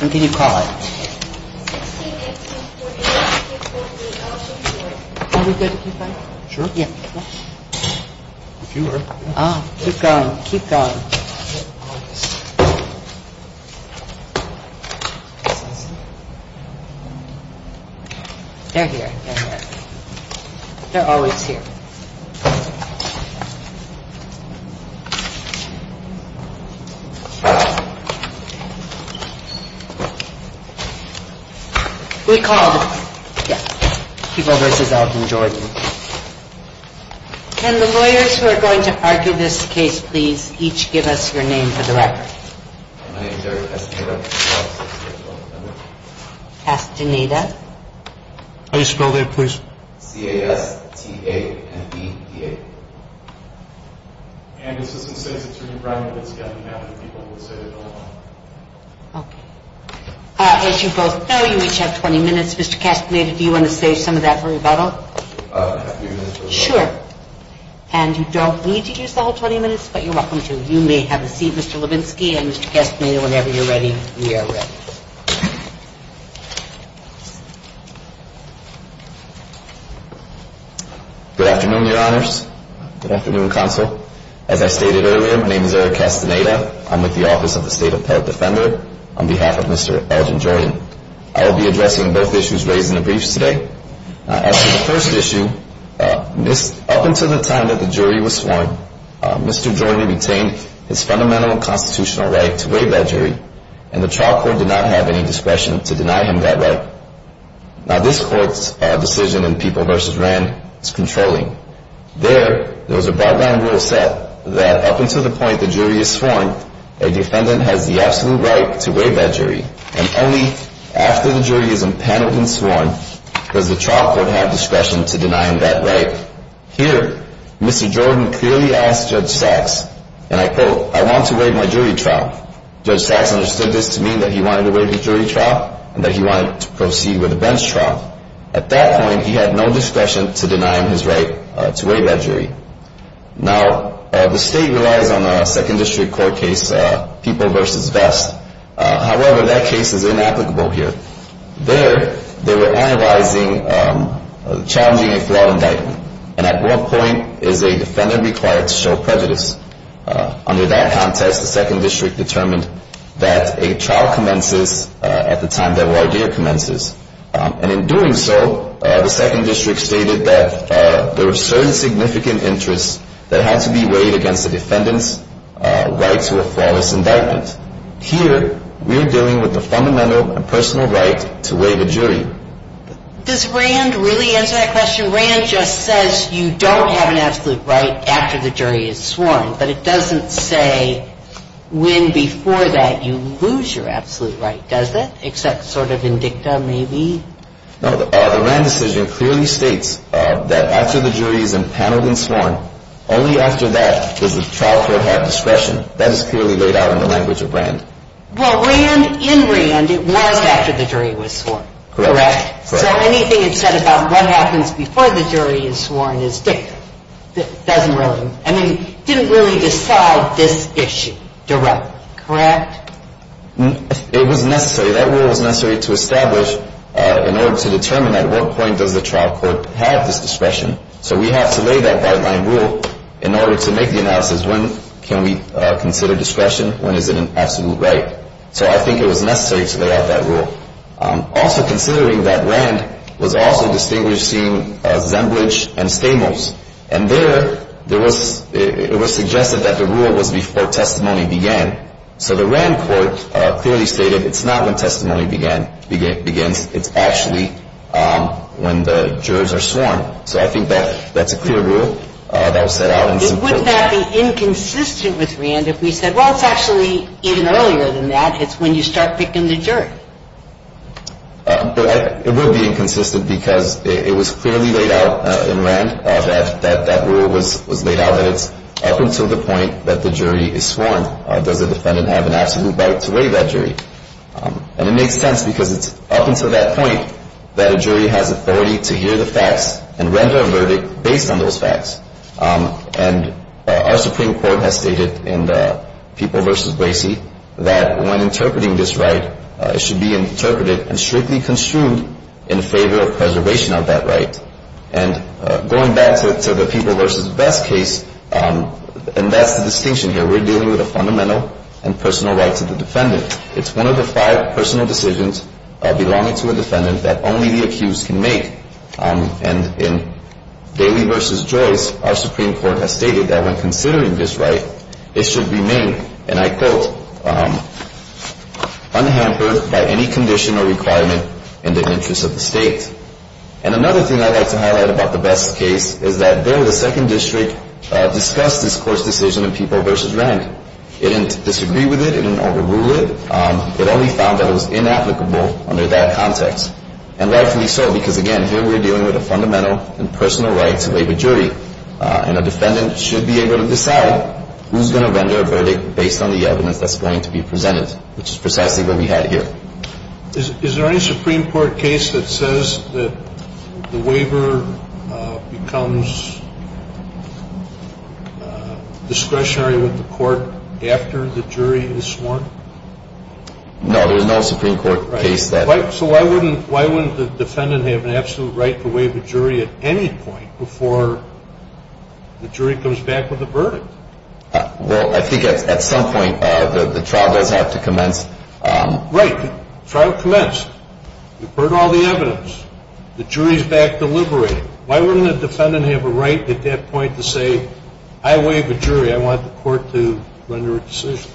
What can you call it? Are we good to keep going? Keep going, keep going. They're here. They're always here. We called people versus Elton Jordan. And the lawyers who are going to argue this case, please each give us your name for the record. My name is Eric Castaneda. Castaneda. How do you spell that, please? C-A-S-T-A-N-E-D-A. And Assistant State Attorney Brian Levinsky, I don't have any people who would say they don't know. Okay. As you both know, you each have 20 minutes. Mr. Castaneda, do you want to save some of that for rebuttal? Sure. And you don't need to use the whole 20 minutes, but you're welcome to. You may have a seat, Mr. Levinsky, and Mr. Castaneda, whenever you're ready, we are ready. Good afternoon, Your Honors. Good afternoon, Counsel. As I stated earlier, my name is Eric Castaneda. I'm with the Office of the State Appellate Defender on behalf of Mr. Elton Jordan. I will be addressing both issues raised in the briefs today. As for the first issue, up until the time that the jury was sworn, Mr. Jordan retained his fundamental constitutional right to waive that jury, and the trial court did not have any discretion to deny him that right. Now, this court's decision in People v. Rand is controlling. There, there was a broad-blind rule set that up until the point the jury is sworn, and only after the jury is impaneled and sworn does the trial court have discretion to deny him that right. Here, Mr. Jordan clearly asked Judge Sachs, and I quote, I want to waive my jury trial. Judge Sachs understood this to mean that he wanted to waive his jury trial and that he wanted to proceed with a bench trial. At that point, he had no discretion to deny him his right to waive that jury. Now, the state relies on a second district court case, People v. Vest. However, that case is inapplicable here. There, they were analyzing, challenging a fraud indictment, and at what point is a defendant required to show prejudice? Under that context, the second district determined that a trial commences at the time that Wardere commences, and in doing so, the second district stated that there were certain significant interests that had to be waived against the defendant's right to a flawless indictment. Here, we are dealing with the fundamental and personal right to waive a jury. Does Rand really answer that question? Rand just says you don't have an absolute right after the jury is sworn, but it doesn't say when before that you lose your absolute right, does it, except sort of in dicta maybe? No, the Rand decision clearly states that after the jury is impaneled and sworn, only after that does the trial court have discretion. That is clearly laid out in the language of Rand. Well, Rand, in Rand, it was after the jury was sworn, correct? Correct. So anything it said about what happens before the jury is sworn is dicta. It doesn't really, I mean, didn't really decide this issue directly, correct? It was necessary. That rule was necessary to establish in order to determine at what point does the trial court have this discretion. So we have to lay that guideline rule in order to make the analysis. When can we consider discretion? When is it an absolute right? So I think it was necessary to lay out that rule. Also considering that Rand was also distinguishing Zembridge and Stamos, and there it was suggested that the rule was before testimony began. So the Rand court clearly stated it's not when testimony begins. It's actually when the jurors are sworn. So I think that's a clear rule that was set out. Wouldn't that be inconsistent with Rand if we said, well, it's actually even earlier than that. It's when you start picking the jury. It would be inconsistent because it was clearly laid out in Rand that that rule was laid out, that it's up until the point that the jury is sworn. Does the defendant have an absolute right to weigh that jury? And it makes sense because it's up until that point that a jury has authority to hear the facts and render a verdict based on those facts. And our Supreme Court has stated in the People v. Bracey that when interpreting this right, it should be interpreted and strictly construed in favor of preservation of that right. And going back to the People v. Best case, and that's the distinction here. We're dealing with a fundamental and personal right to the defendant. It's one of the five personal decisions belonging to a defendant that only the accused can make. And in Daly v. Joyce, our Supreme Court has stated that when considering this right, it should remain, and I quote, unhampered by any condition or requirement in the interest of the state. And another thing I'd like to highlight about the Best case is that there, the second district discussed this court's decision in People v. Rank. It didn't disagree with it. It didn't overrule it. It only found that it was inapplicable under that context. And rightfully so because, again, here we're dealing with a fundamental and personal right to weigh the jury. And a defendant should be able to decide who's going to render a verdict based on the evidence that's going to be presented, which is precisely what we had here. Is there any Supreme Court case that says that the waiver becomes discretionary with the court after the jury is sworn? No, there's no Supreme Court case that. So why wouldn't the defendant have an absolute right to waive a jury at any point before the jury comes back with a verdict? Well, I think at some point the trial does have to commence. Right. The trial commenced. You've heard all the evidence. The jury's back deliberating. Why wouldn't the defendant have a right at that point to say, I waive a jury. I want the court to render a decision,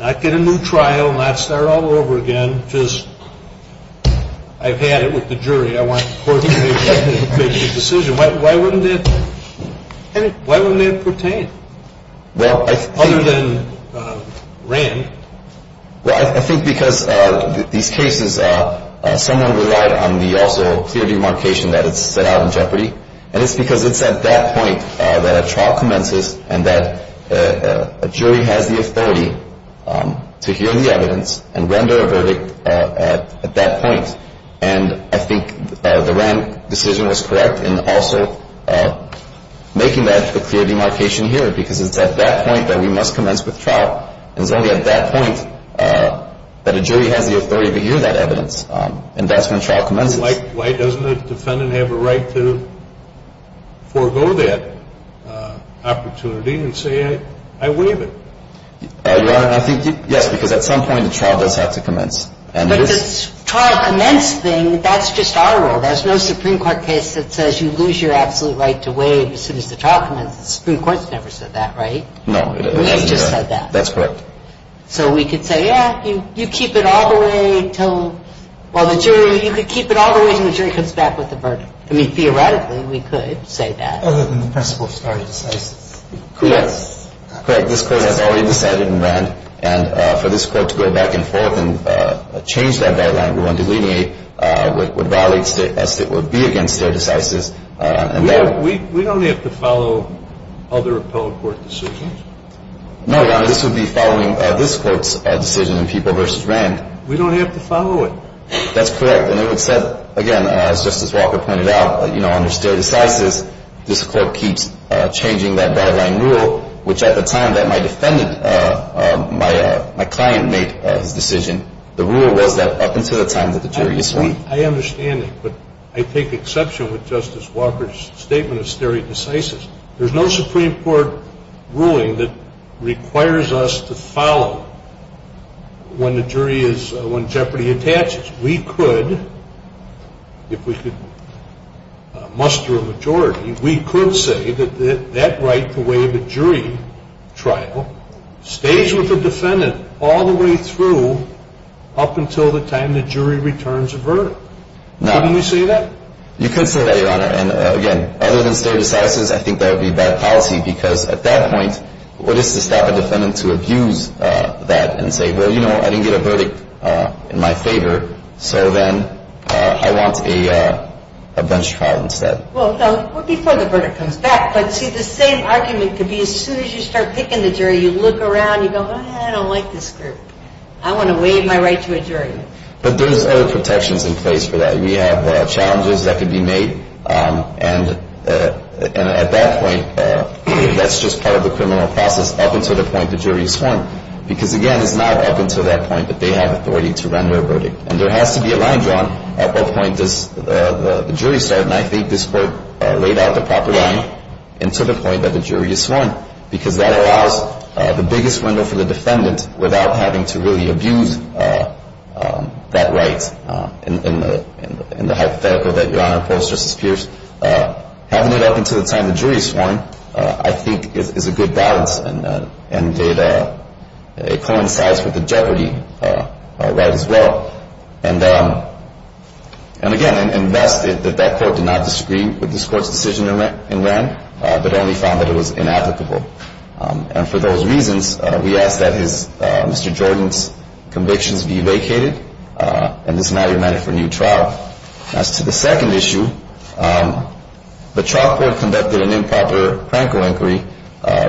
not get a new trial, not start all over again, just I've had it with the jury. I want the court to make the decision. Why wouldn't that pertain other than Rand? Well, I think because these cases, someone relied on the also clear demarcation that it's set out in jeopardy, and it's because it's at that point that a trial commences and that a jury has the authority to hear the evidence and render a verdict at that point. And I think the Rand decision was correct in also making that a clear demarcation here because it's at that point that we must commence with trial, and it's only at that point that a jury has the authority to hear that evidence, and that's when trial commences. Why doesn't the defendant have a right to forego that opportunity and say, I waive it? Your Honor, I think, yes, because at some point the trial does have to commence. But if it's a trial commence thing, that's just our rule. There's no Supreme Court case that says you lose your absolute right to waive as soon as the trial commences. The Supreme Court's never said that, right? No. We've just said that. That's correct. So we could say, yeah, you keep it all the way until while the jury, you could keep it all the way until the jury comes back with the verdict. I mean, theoretically, we could say that. Other than the principle of stare decisis. Correct. Correct. This Court has already decided in Rand, and for this Court to go back and forth and change that guideline, we want to delineate what valid as it would be against stare decisis. We don't have to follow other appellate court decisions? No, Your Honor. This would be following this Court's decision in People v. Rand. We don't have to follow it? That's correct. And it would set, again, as Justice Walker pointed out, under stare decisis, this Court keeps changing that guideline rule, which at the time that my defendant, my client made his decision, the rule was that up until the time that the jury is sworn. I understand it, but I take exception with Justice Walker's statement of stare decisis. There's no Supreme Court ruling that requires us to follow when the jury is, when jeopardy attaches. We could, if we could muster a majority, we could say that that right to waive a jury trial stays with the defendant all the way through up until the time the jury returns a verdict. Couldn't we say that? You could say that, Your Honor. And, again, other than stare decisis, I think that would be bad policy because at that point, what is to stop a defendant to abuse that and say, well, you know, I didn't get a verdict in my favor, so then I want a bench trial instead. Well, before the verdict comes back, but see, the same argument could be as soon as you start picking the jury, you look around, you go, I don't like this group. I want to waive my right to a jury. But there's other protections in place for that. We have challenges that could be made, and at that point, that's just part of the criminal process up until the point the jury is sworn. Because, again, it's not up until that point that they have authority to render a verdict. And there has to be a line drawn at what point does the jury start, and I think this Court laid out the proper line and to the point that the jury is sworn because that allows the biggest window for the defendant without having to really abuse that right in the hypothetical that Your Honor opposes versus Pierce. Having it up until the time the jury is sworn, I think, is a good balance, and it coincides with the jeopardy right as well. And, again, unless that that Court did not disagree with this Court's decision in Rand that only found that it was inapplicable. And for those reasons, we ask that Mr. Jordan's convictions be vacated, and this matter be meted for a new trial. As to the second issue, the trial court conducted an improper Franco inquiry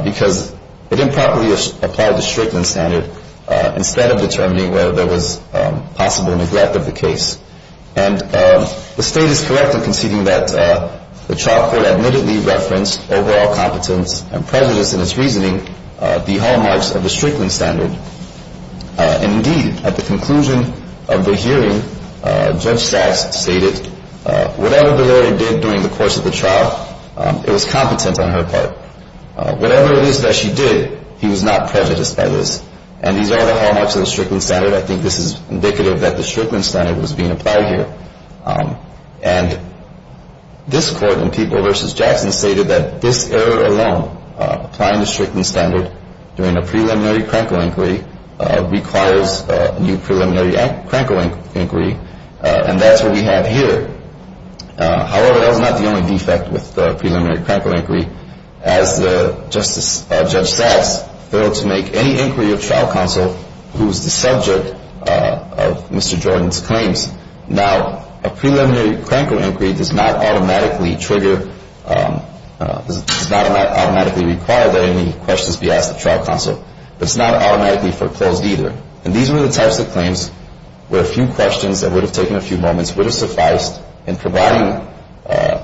because it improperly applied the Strickland standard instead of determining whether there was possible neglect of the case. And the State is correct in conceding that the trial court admittedly referenced overall competence and prejudiced in its reasoning the hallmarks of the Strickland standard. And, indeed, at the conclusion of the hearing, Judge Sachs stated, whatever the lawyer did during the course of the trial, it was competent on her part. Whatever it is that she did, he was not prejudiced by this. And these are the hallmarks of the Strickland standard. I think this is indicative that the Strickland standard was being applied here. And this Court in People v. Jackson stated that this error alone, applying the Strickland standard during a preliminary Franco inquiry, requires a new preliminary Franco inquiry, and that's what we have here. However, that was not the only defect with the preliminary Franco inquiry. As Justice Judge Sachs failed to make any inquiry of trial counsel who was the subject of Mr. Jordan's claims, now a preliminary Franco inquiry does not automatically trigger, does not automatically require that any questions be asked of trial counsel. It's not automatically foreclosed either. And these were the types of claims where a few questions that would have taken a few moments would have sufficed in providing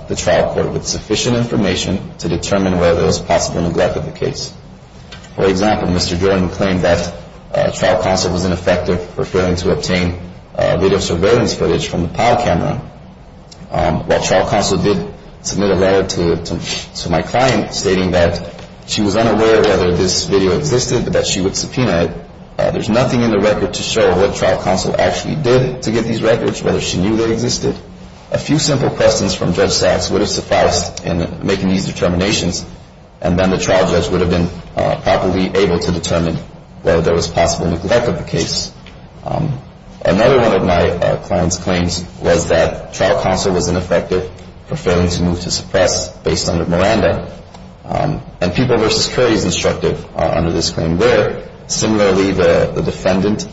the trial court with sufficient information to determine whether there was possible neglect of the case. For example, Mr. Jordan claimed that trial counsel was ineffective for failing to obtain video surveillance footage from the PAL camera. While trial counsel did submit a letter to my client stating that she was unaware whether this video existed, that she would subpoena it, there's nothing in the record to show what trial counsel actually did to get these records, whether she knew they existed. A few simple questions from Judge Sachs would have sufficed in making these determinations, and then the trial judge would have been properly able to determine whether there was possible neglect of the case. Another one of my client's claims was that trial counsel was ineffective for failing to move to suppress based on Miranda. And people versus curries instructed under this claim where, similarly, the defendant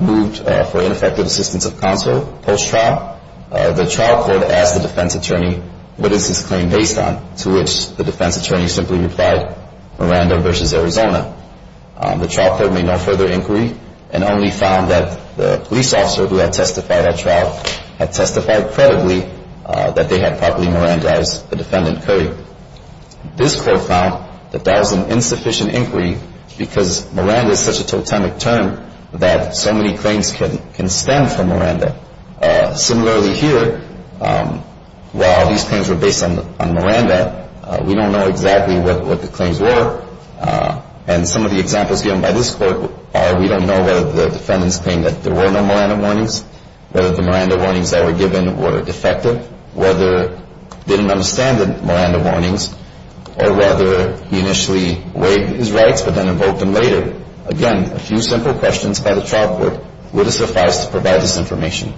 moved for ineffective assistance of counsel post-trial, the trial court asked the defense attorney, what is this claim based on, to which the defense attorney simply replied, Miranda versus Arizona. The trial court made no further inquiry and only found that the police officer who had testified at trial had testified credibly that they had properly Mirandized the defendant curry. This court found that that was an insufficient inquiry because Miranda is such a totemic term that so many claims can stem from Miranda. Similarly here, while these claims were based on Miranda, we don't know exactly what the claims were. And some of the examples given by this court are we don't know whether the defendant's claim that there were no Miranda warnings, whether the Miranda warnings that were given were defective, whether he didn't understand the Miranda warnings, or whether he initially waived his rights but then invoked them later. Again, a few simple questions by the trial court. Would it suffice to provide this information?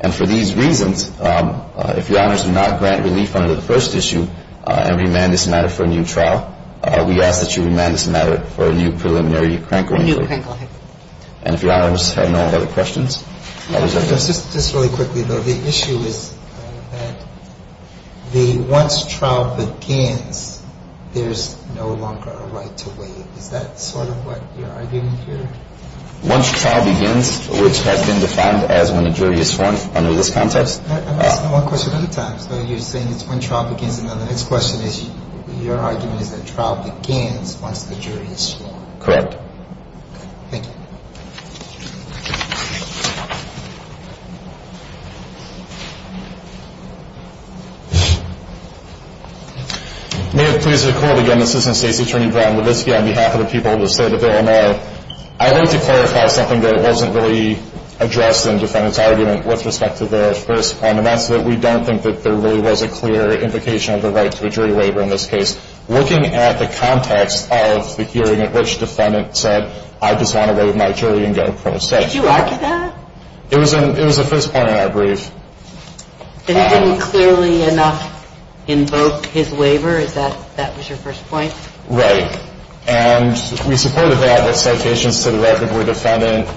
And for these reasons, if Your Honors do not grant relief under the first issue and remand this matter for a new trial, we ask that you remand this matter for a new preliminary crank or inquiry. And if Your Honors have no other questions. Just really quickly, though. The issue is that the once trial begins, there's no longer a right to waive. Is that sort of what you're arguing here? Once trial begins, which has been defined as when a jury is sworn under this context. I'm asking one question at a time. So you're saying it's when trial begins and then the next question is your argument is that trial begins once the jury is sworn. Correct. Thank you. Thank you. May I please record again, Assistant State's Attorney, Brian Levitsky, on behalf of the people of the State of Illinois. I'd like to clarify something that wasn't really addressed in the defendant's argument with respect to the first point, and that's that we don't think that there really was a clear implication of the right to a jury waiver in this case. Looking at the context of the hearing at which the defendant said, I just want to waive my jury and go. Did you argue that? It was a first point in our brief. It didn't clearly enough invoke his waiver. Is that your first point? Right. And we supported that with citations to the record for the defendant.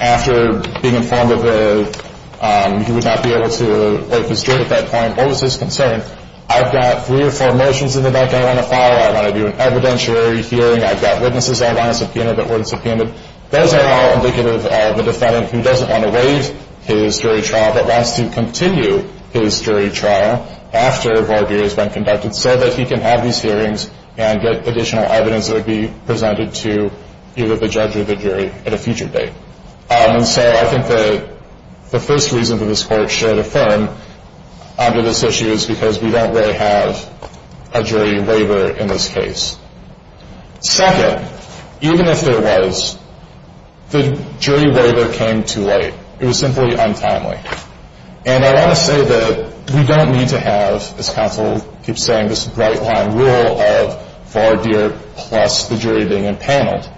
After being informed that he would not be able to waive his jury at that point, what was his concern? I've got three or four motions in the back I want to follow. I want to do an evidentiary hearing. I've got witnesses I want to subpoena that weren't subpoenaed. Those are all indicative of a defendant who doesn't want to waive his jury trial but wants to continue his jury trial after Barbier has been conducted so that he can have these hearings and get additional evidence that would be presented to either the judge or the jury at a future date. And so I think that the first reason that this Court should affirm under this issue is because we don't really have a jury waiver in this case. Second, even if there was, the jury waiver came too late. It was simply untimely. And I want to say that we don't need to have, as counsel keeps saying, this bright-line rule of Barbier plus the jury being empaneled.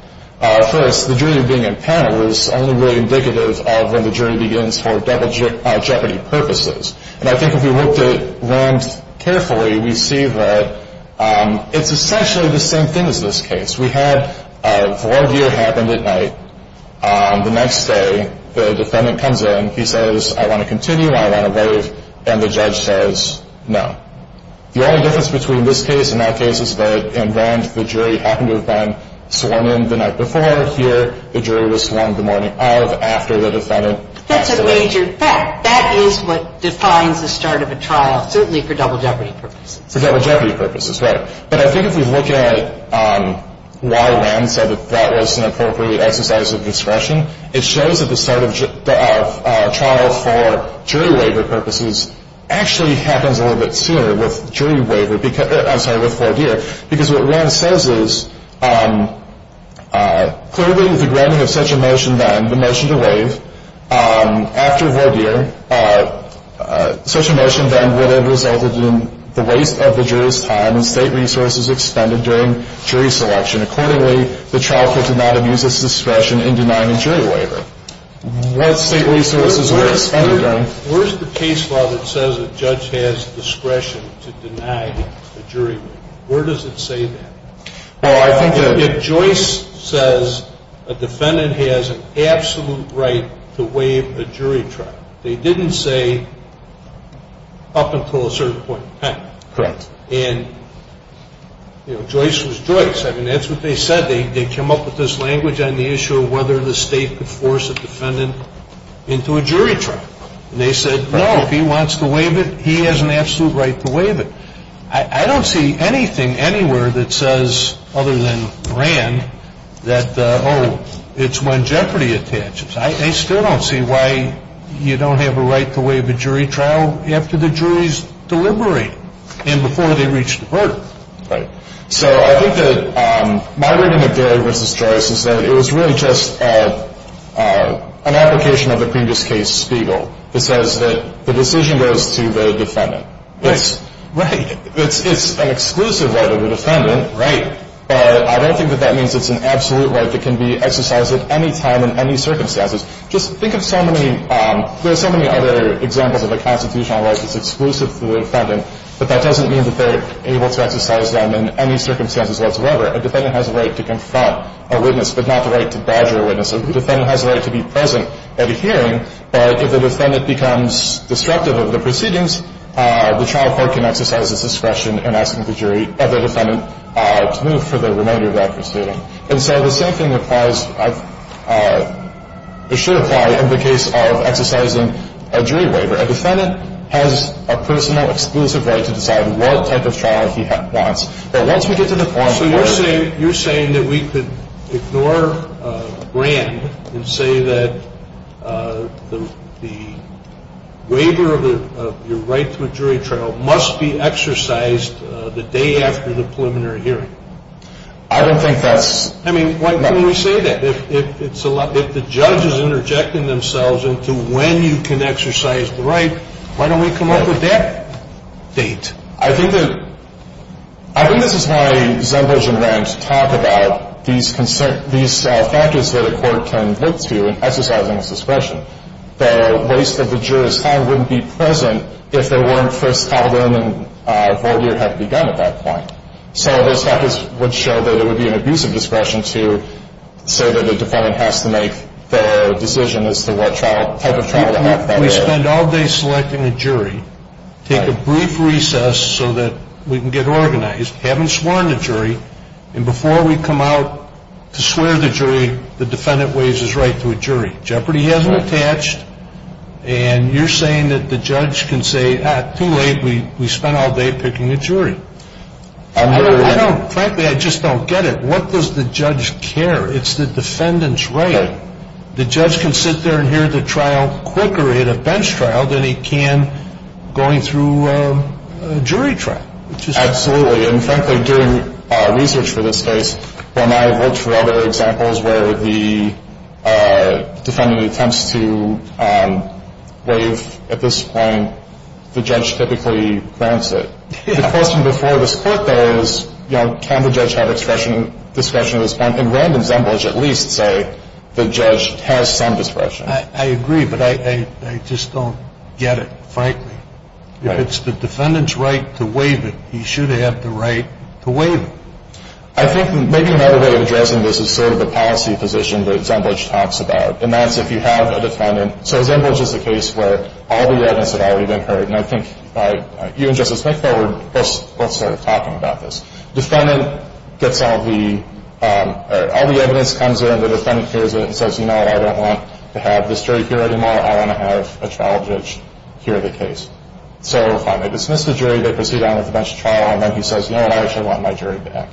First, the jury being empaneled is only really indicative of when the jury begins for double jeopardy purposes. And I think if we looked at Rand carefully, we see that it's essentially the same thing as this case. We had Barbier happened at night. The next day, the defendant comes in. He says, I want to continue, I want to waive, and the judge says no. The only difference between this case and that case is that in Rand, the jury happened to have been sworn in the night before. Here, the jury was sworn in the morning of, after the defendant. That's a major fact. That is what defines the start of a trial, certainly for double jeopardy purposes. For double jeopardy purposes, right. But I think if we look at why Rand said that that was an appropriate exercise of discretion, it shows that the start of a trial for jury waiver purposes actually happens a little bit sooner with jury waiver, I'm sorry, with Vordier, because what Rand says is clearly the granting of such a motion then, the motion to waive, after Vordier, such a motion then would have resulted in the waste of the jury's time and state resources expended during jury selection. Accordingly, the trial could not have used this discretion in denying a jury waiver. What state resources were expended during? Where's the case law that says a judge has discretion to deny a jury waiver? Where does it say that? Oh, I think that. If Joyce says a defendant has an absolute right to waive a jury trial, they didn't say up until a certain point in time. Correct. And, you know, Joyce was Joyce. I mean, that's what they said. They came up with this language on the issue of whether the state could force a defendant into a jury trial. And they said, no, if he wants to waive it, he has an absolute right to waive it. I don't see anything anywhere that says, other than Rand, that, oh, it's when jeopardy attaches. I still don't see why you don't have a right to waive a jury trial after the jury's deliberated. And before they reach the verdict. Right. So I think that my reading of Gary v. Joyce is that it was really just an application of the previous case, Spiegel, that says that the decision goes to the defendant. Right. It's an exclusive right of the defendant. Right. But I don't think that that means it's an absolute right that can be exercised at any time in any circumstances. Just think of so many, there are so many other examples of a constitutional right that's exclusive to the defendant. But that doesn't mean that they're able to exercise them in any circumstances whatsoever. A defendant has a right to confront a witness, but not the right to barge a witness. A defendant has a right to be present at a hearing. But if a defendant becomes destructive of the proceedings, the trial court can exercise its discretion in asking the jury of the defendant to move for the remainder of that proceeding. And so the same thing applies, or should apply in the case of exercising a jury waiver. A defendant has a personal exclusive right to decide what type of trial he wants. But once we get to the point where... So you're saying that we could ignore Grand and say that the waiver of your right to a jury trial must be exercised the day after the preliminary hearing. I don't think that's... I mean, why can't we say that? If the judge is interjecting themselves into when you can exercise the right, why don't we come up with that date? I think that... I think this is why Zembos and Rand talk about these factors that a court can look to in exercising its discretion. The waste of the juror's time wouldn't be present if there weren't for... And I think that's a good point. It would be an abusive discretion to say that a defendant has to make the decision as to what type of trial... We spend all day selecting a jury, take a brief recess so that we can get organized, haven't sworn the jury, and before we come out to swear the jury, the defendant waives his right to a jury. Jeopardy hasn't attached. And you're saying that the judge can say, oh, too late, we spent all day picking a jury. Frankly, I just don't get it. What does the judge care? It's the defendant's right. The judge can sit there and hear the trial quicker in a bench trial than he can going through a jury trial. Absolutely, and frankly, doing research for this case, when I've looked for other examples where the defendant attempts to waive at this point, the judge typically grants it. The question before this court, though, is can the judge have discretion at this point? And Rand and Zembelich at least say the judge has some discretion. I agree, but I just don't get it, frankly. If it's the defendant's right to waive it, he should have the right to waive it. I think maybe another way of addressing this is sort of the policy position that Zembelich talks about, and that's if you have a defendant. So Zembelich is a case where all the evidence had already been heard, and I think you and Justice McBell were both sort of talking about this. Defendant gets all the evidence, comes in, and the defendant hears it and says, you know what, I don't want to have this jury here anymore. I want to have a trial judge hear the case. So fine, they dismiss the jury, they proceed on with the bench trial, and then he says, you know what, I actually want my jury back.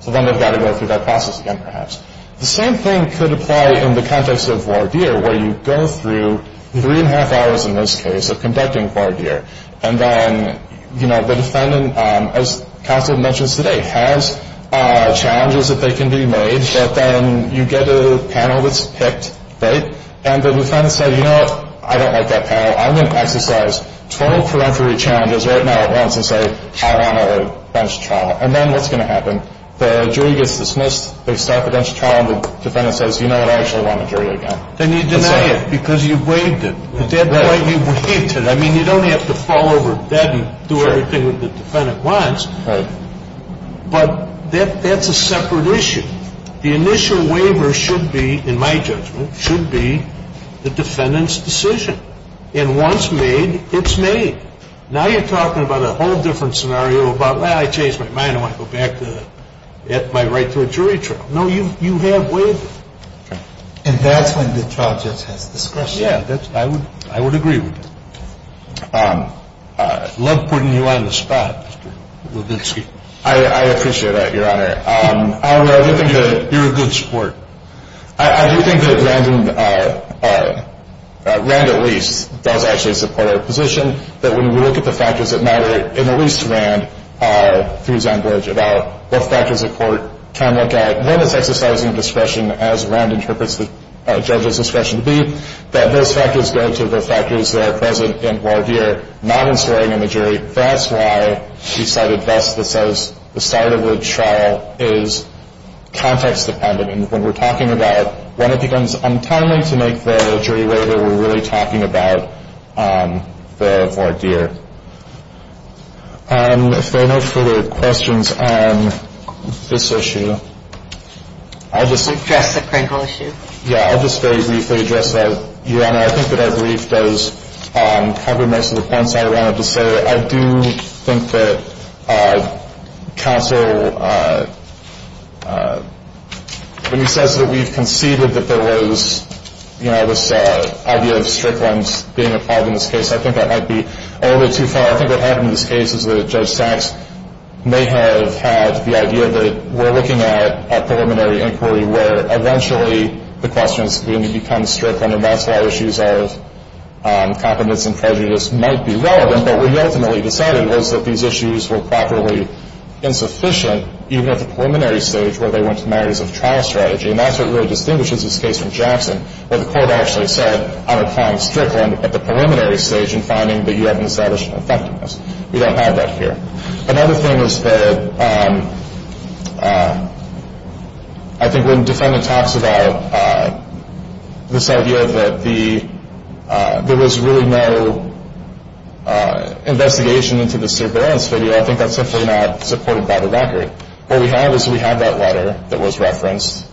So then they've got to go through that process again, perhaps. The same thing could apply in the context of voir dire, where you go through three and a half hours in this case of conducting voir dire, and then, you know, the defendant, as counsel mentions today, has challenges that they can be made, but then you get a panel that's picked, right? And the defendant says, you know what, I don't like that panel. I'm going to exercise 12 correctory challenges right now at once and say I want a bench trial. And then what's going to happen? The jury gets dismissed, they start the bench trial, and the defendant says, you know what, I actually want a jury again. Then you deny it because you waived it. At that point, you waived it. I mean, you don't have to fall over dead and do everything that the defendant wants. Right. But that's a separate issue. The initial waiver should be, in my judgment, should be the defendant's decision. And once made, it's made. Now you're talking about a whole different scenario about, well, I changed my mind. I want to go back to my right to a jury trial. No, you have waived it. And that's when the trial judge has discretion. Yeah, I would agree with that. I love putting you on the spot, Mr. Levitsky. I appreciate that, Your Honor. I do think that you're a good sport. I do think that Rand at least does actually support our position, that when we look at the factors that matter, and at least Rand, through his language about what factors a court can look at, that when it's exercising discretion, as Rand interprets the judge's discretion to be, that those factors go to the factors that are present in voir dire, not in swearing in the jury. That's why he cited thus the start of the trial is context-dependent. And when we're talking about when it becomes untimely to make the jury waiver, we're really talking about the voir dire. If there are no further questions on this issue, I'll just very briefly address that, Your Honor. I think that our brief does cover most of the points I wanted to say. I do think that counsel, when he says that we've conceded that there was, you know, this idea of strict lines being applied in this case, I think that might be a little bit too far. I think what happened in this case is that Judge Sachs may have had the idea that we're looking at a preliminary inquiry where eventually the question is going to become strict, and that's why issues of competence and prejudice might be relevant. But what he ultimately decided was that these issues were properly insufficient, even at the preliminary stage where they went to the matters of trial strategy. And that's what really distinguishes this case from Jackson, where the court actually said I'm applying strict line at the preliminary stage and finding that you haven't established effectiveness. We don't have that here. Another thing is that I think when the defendant talks about this idea that there was really no investigation into the surveillance video, I think that's simply not supported by the record. What we have is we have that letter that was referenced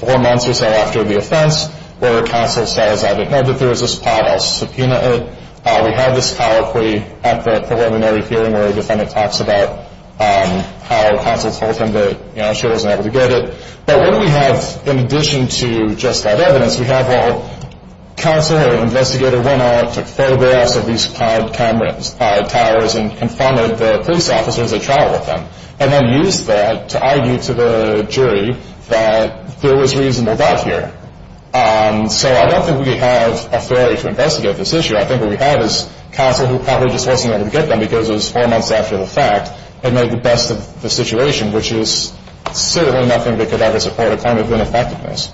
four months or so after the offense, where counsel says I didn't know that there was this pod. I'll subpoena it. We have this colloquy at the preliminary hearing where a defendant talks about how counsel told him that, you know, she wasn't able to get it. But what do we have in addition to just that evidence? We have, well, counsel or an investigator went out and took photographs of these pod cameras, pod towers, and confronted the police officers at trial with them, and then used that to argue to the jury that there was reasonable doubt here. So I don't think we have authority to investigate this issue. I think what we have is counsel who probably just wasn't able to get them because it was four months after the fact and made the best of the situation, which is certainly nothing that could ever support a claim of ineffectiveness.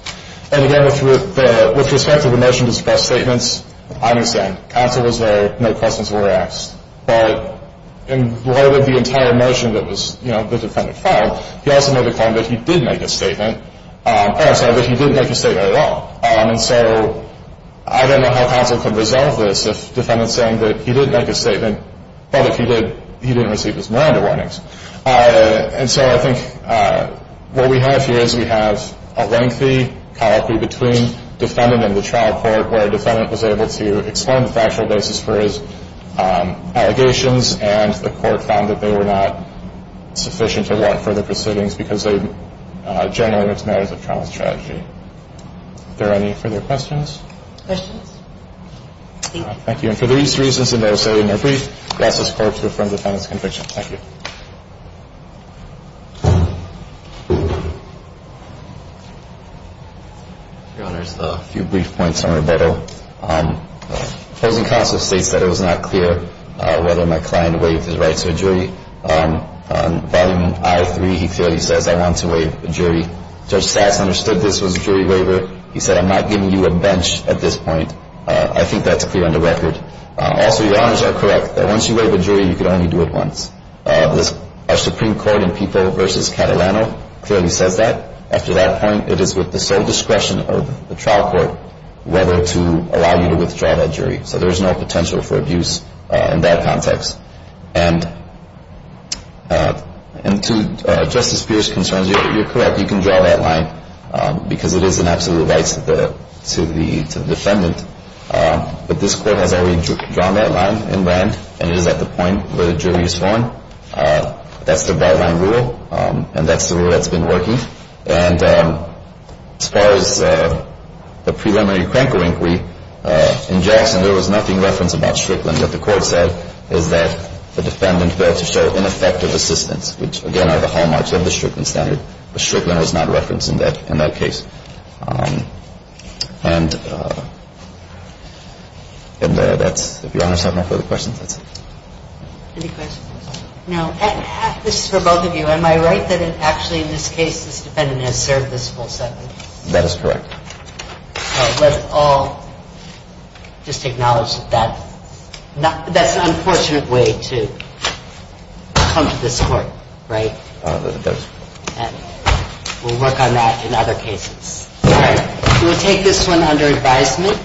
And, again, with respect to the motion to suppress statements, I understand. Counsel was there. No questions were asked. But in light of the entire motion that was, you know, the defendant filed, he also made the claim that he did make a statement. Oh, I'm sorry, that he didn't make a statement at all. And so I don't know how counsel can resolve this if defendant's saying that he did make a statement, but if he did, he didn't receive his Miranda warnings. And so I think what we have here is we have a lengthy colloquy between defendant and the trial court where defendant was able to explain the factual basis for his allegations and the court found that they were not sufficient to walk further proceedings because they generally mixed matters of trial and strategy. Are there any further questions? Questions? Thank you. And for these reasons, I now say in their brief, I ask this Court to affirm defendant's conviction. Thank you. Your Honors, a few brief points on rebuttal. Opposing counsel states that it was not clear whether my client waived his right to a jury. On Volume I.3, he clearly says, I want to waive a jury. Judge Stats understood this was a jury waiver. He said, I'm not giving you a bench at this point. I think that's clear on the record. Also, Your Honors are correct that once you waive a jury, you can only do it once. Our Supreme Court in People v. Catalano clearly says that. After that point, it is with the sole discretion of the trial court whether to allow you to withdraw that jury. So there's no potential for abuse in that context. And to Justice Pierce's concerns, you're correct. You can draw that line because it is an absolute right to the defendant. But this Court has already drawn that line in land, and it is at the point where the jury is sworn. That's the byline rule, and that's the rule that's been working. And as far as the preliminary cranker inquiry, in Jackson there was nothing referenced about Strickland. What the Court said is that the defendant failed to show ineffective assistance, which again are the hallmarks of the Strickland standard. But Strickland was not referenced in that case. And that's, if Your Honors have no further questions, that's it. Any questions? No. This is for both of you. Am I right that actually in this case this defendant has served this full sentence? That is correct. So let's all just acknowledge that that's an unfortunate way to come to this Court, right? That is correct. And we'll work on that in other cases. All right. We'll take this one under advisement,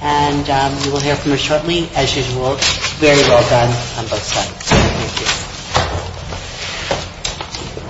and we will hear from her shortly. As usual, very well done on both sides. Thank you.